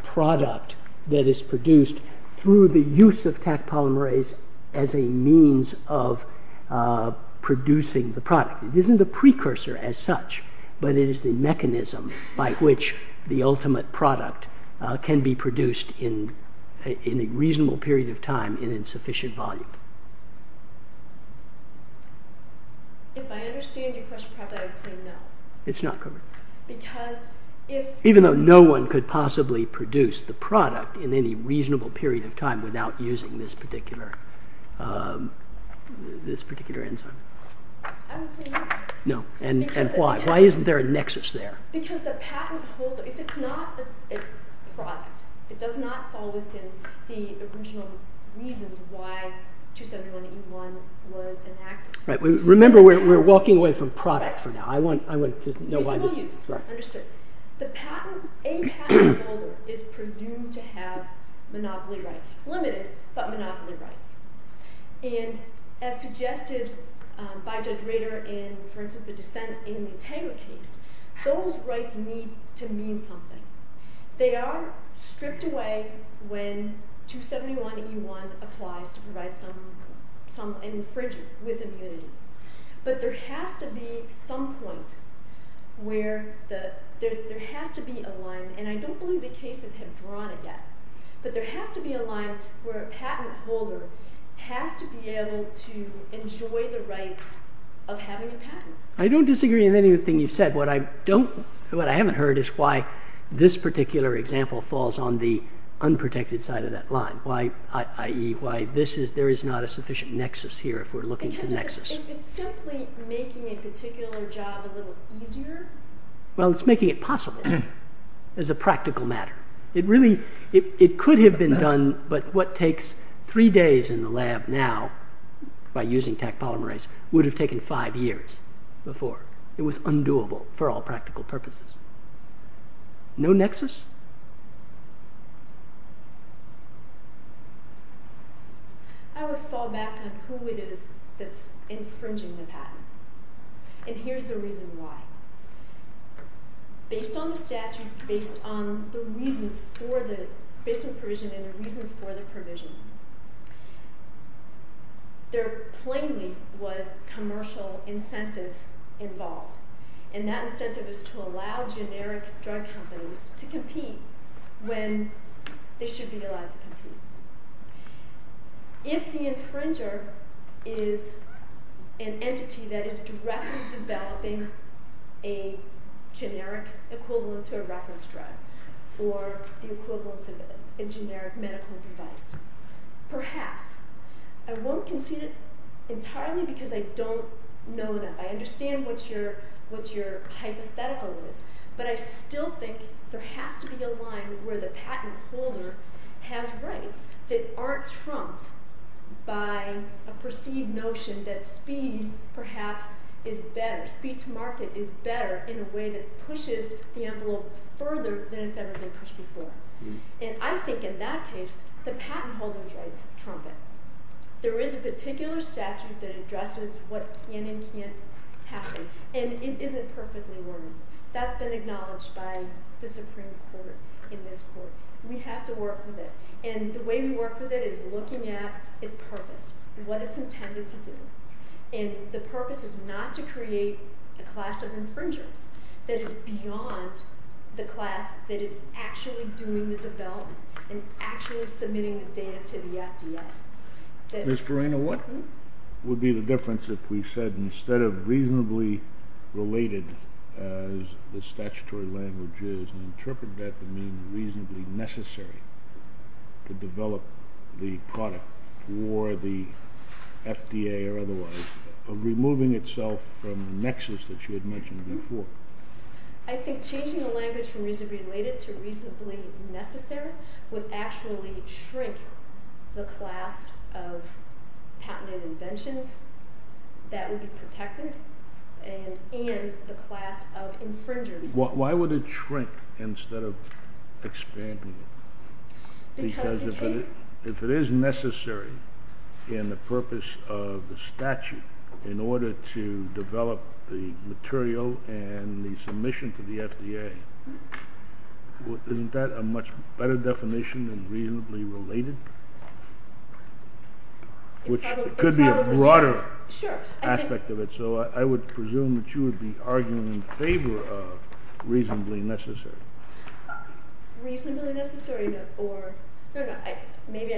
product that is produced through the use of Taq polymerase as a means of producing the product? It isn't a precursor as such, but it is the mechanism by which the ultimate product can be produced in a reasonable period of time and in sufficient volume. If I understand your question properly, I would say no. It's not covered. Because if... Even though no one could possibly produce the product in any reasonable period of time without using this particular enzyme. I would say no. No. And why? Why isn't there a nexus there? Because the patent holder, if it's not a product, it does not fall within the original reasons why 271E1 was enacted. Right. Remember, we're walking away from product for now. I want to know why this... Reasonable use. Right. Understood. A patent holder is presumed to have monopoly rights. Limited, but monopoly rights. And as suggested by Judge Rader in, for instance, the dissent in the Tanger case, those rights need to mean something. They are stripped away when 271E1 applies to provide some infringement with immunity. But there has to be some point where there has to be a line. And I don't believe the cases have drawn it yet. But there has to be a line where a patent holder has to be able to enjoy the rights of having a patent. I don't disagree with anything you've said. What I haven't heard is why this particular example falls on the unprotected side of that line, i.e. why there is not a sufficient nexus here if we're looking for a nexus. Because it's simply making a particular job a little easier. Well, it's making it possible as a practical matter. It could have been done, but what takes three days in the lab now by using Taq polymerase would have taken five years before. It was undoable for all practical purposes. No nexus? I would fall back on who it is that's infringing the patent. And here's the reason why. Based on the statute, based on the reasons for the dissent provision and the reasons for the provision, there plainly was commercial incentive involved. And that incentive is to allow generic drug companies to compete when they should be allowed to compete. If the infringer is an entity that is directly developing a generic equivalent to a reference drug or the equivalent of a generic medical device. Perhaps. I won't concede it entirely because I don't know enough. I understand what your hypothetical is. But I still think there has to be a line where the patent holder has rights that aren't trumped by a perceived notion that speed, perhaps, is better. Speed to market is better in a way that pushes the envelope further than it's ever been pushed before. And I think in that case, the patent holder's rights trumpet. There is a particular statute that addresses what can and can't happen. And it isn't perfectly worded. That's been acknowledged by the Supreme Court in this court. We have to work with it. And the way we work with it is looking at its purpose and what it's intended to do. And the purpose is not to create a class of infringers that is beyond the class that is actually doing the development and actually submitting the data to the FDA. Ms. Farina, what would be the difference if we said instead of reasonably related as the statutory language is and interpret that to mean reasonably necessary to develop the product for the FDA or otherwise, removing itself from the nexus that you had mentioned before? I think changing the language from reasonably related to reasonably necessary would actually shrink the class of patented inventions that would be protected and the class of infringers. Why would it shrink instead of expanding it? Because if it is necessary in the purpose of the statute in order to develop the material and the submission to the FDA, isn't that a much better definition than reasonably related? Which could be a broader aspect of it. So I would presume that you would be arguing in favor of reasonably necessary. Reasonably necessary or maybe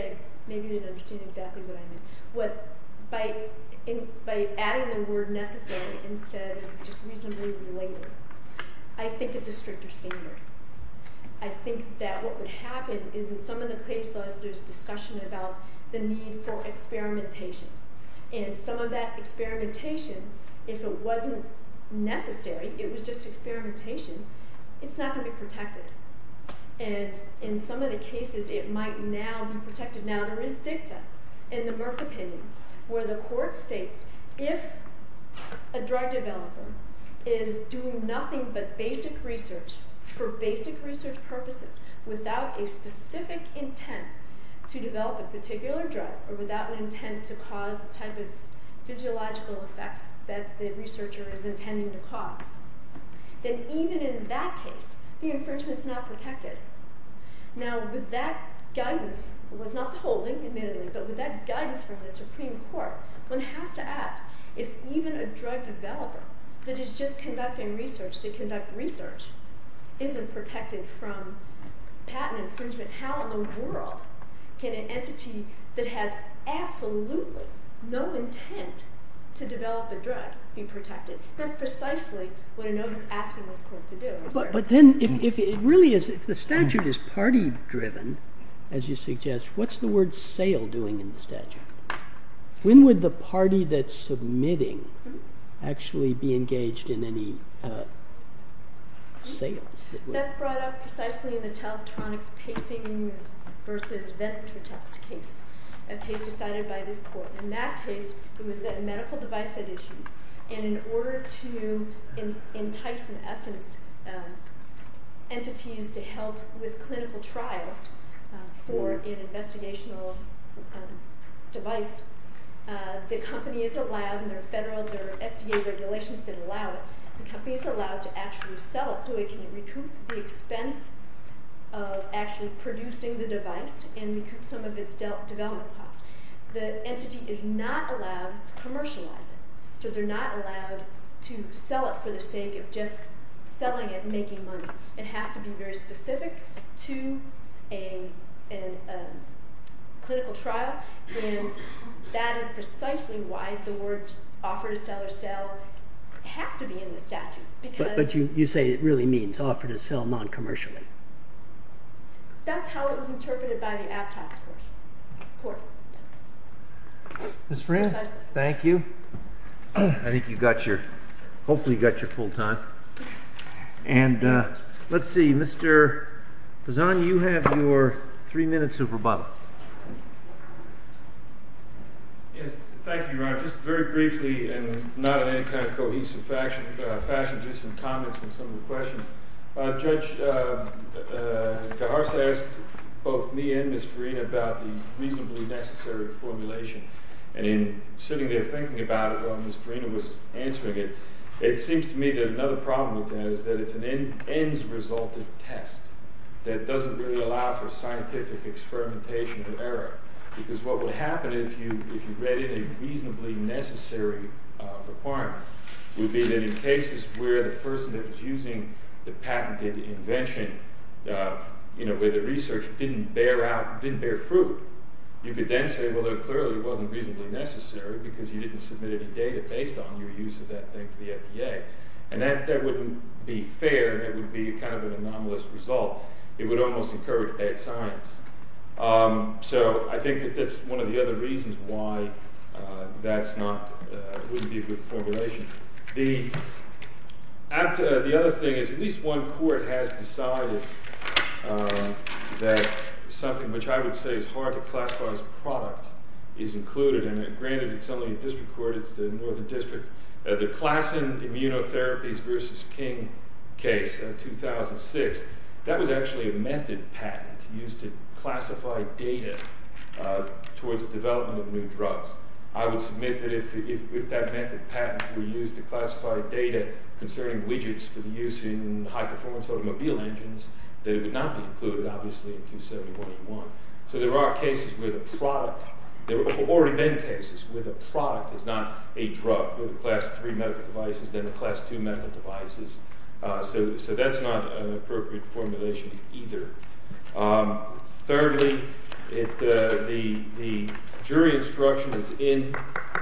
you didn't understand exactly what I meant. By adding the word necessary instead of just reasonably related, I think it's a stricter standard. I think that what would happen is in some of the cases there's discussion about the need for experimentation. And some of that experimentation, if it wasn't necessary, it was just experimentation, it's not going to be protected. And in some of the cases it might now be protected. Now there is dicta in the Merck opinion where the court states if a drug developer is doing nothing but basic research for basic research purposes without a specific intent to develop a particular drug or without an intent to cause the type of physiological effects that the researcher is intending to cause, then even in that case the infringement is not protected. Now with that guidance, it was not the holding admittedly, but with that guidance from the Supreme Court, one has to ask if even a drug developer that is just conducting research to conduct research isn't protected from patent infringement. How in the world can an entity that has absolutely no intent to develop a drug be protected? That's precisely what I know he's asking this court to do. But then if the statute is party driven, as you suggest, what's the word sale doing in the statute? When would the party that's submitting actually be engaged in any sales? That's brought up precisely in the Teletronics Pacing versus Ventrotex case, a case decided by this court. In that case, it was a medical device at issue, and in order to entice, in essence, entities to help with clinical trials for an investigational device, the company is allowed, and there are federal, there are FDA regulations that allow it, the company is allowed to actually sell it so it can recoup the expense of actually producing the device and recoup some of its development costs. The entity is not allowed to commercialize it, so they're not allowed to sell it for the sake of just selling it and making money. It has to be very specific to a clinical trial, and that is precisely why the words offer to sell or sell have to be in the statute. But you say it really means offer to sell non-commercially. That's how it was interpreted by the Aptos court. Ms. Farina, thank you. I think you got your, hopefully you got your full time. And let's see, Mr. Pisan, you have your three minutes of rebuttal. Yes, thank you, Your Honor. Just very briefly, and not in any kind of cohesive fashion, just some comments and some of the questions. Judge DeHart asked both me and Ms. Farina about the reasonably necessary formulation. And in sitting there thinking about it while Ms. Farina was answering it, it seems to me that another problem with that is that it's an ends-resulted test that doesn't really allow for scientific experimentation with error. Because what would happen if you read in a reasonably necessary requirement would be that in cases where the person that was using the patented invention, you know, where the research didn't bear out, didn't bear fruit, you could then say, well, it clearly wasn't reasonably necessary because you didn't submit any data based on your use of that thing to the FDA. And that wouldn't be fair. It would be kind of an anomalous result. It would almost encourage bad science. So I think that that's one of the other reasons why that's not, wouldn't be a good formulation. The other thing is at least one court has decided that something which I would say is hard to classify as product is included in it. Granted, it's only a district court. It's the Northern District. The Klassen immunotherapies versus King case in 2006, that was actually a method patent used to classify data towards development of new drugs. I would submit that if that method patent were used to classify data concerning widgets for the use in high-performance automobile engines, that it would not be included, obviously, in 271A1. So there are cases where the product, there have already been cases where the product is not a drug, where the class 3 medical devices, then the class 2 medical devices. So that's not an appropriate formulation either. Thirdly, the jury instruction is in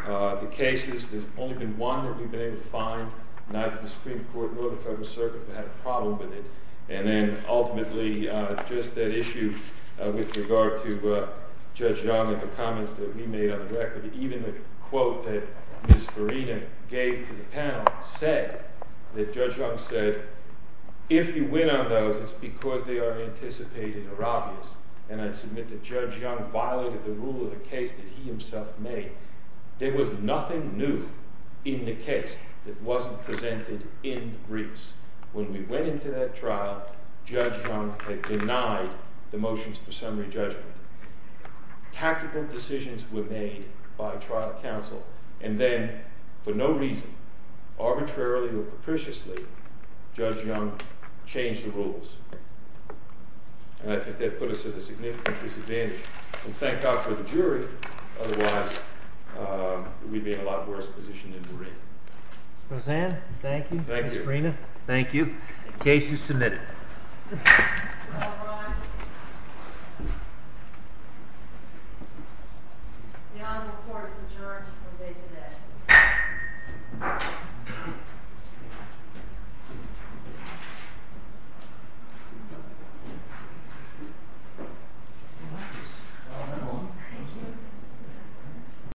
the cases. There's only been one that we've been able to find. Neither the Supreme Court nor the Federal Circuit have had a problem with it. And then ultimately, just that issue with regard to Judge Young and the comments that we made on the record, even the quote that Ms. Farina gave to the panel said that Judge Young said, if you win on those, it's because they are anticipated or obvious. And I submit that Judge Young violated the rule of the case that he himself made. There was nothing new in the case that wasn't presented in the briefs. When we went into that trial, Judge Young had denied the motions for summary judgment. Tactical decisions were made by trial counsel, and then for no reason, arbitrarily or capriciously, Judge Young changed the rules. And I think that put us at a significant disadvantage. We thank God for the jury. Otherwise, we'd be in a lot worse position in the ring. Ms. Roseanne, thank you. Thank you. Ms. Farina, thank you. The case is submitted. All rise. The honorable court is adjourned for the day today.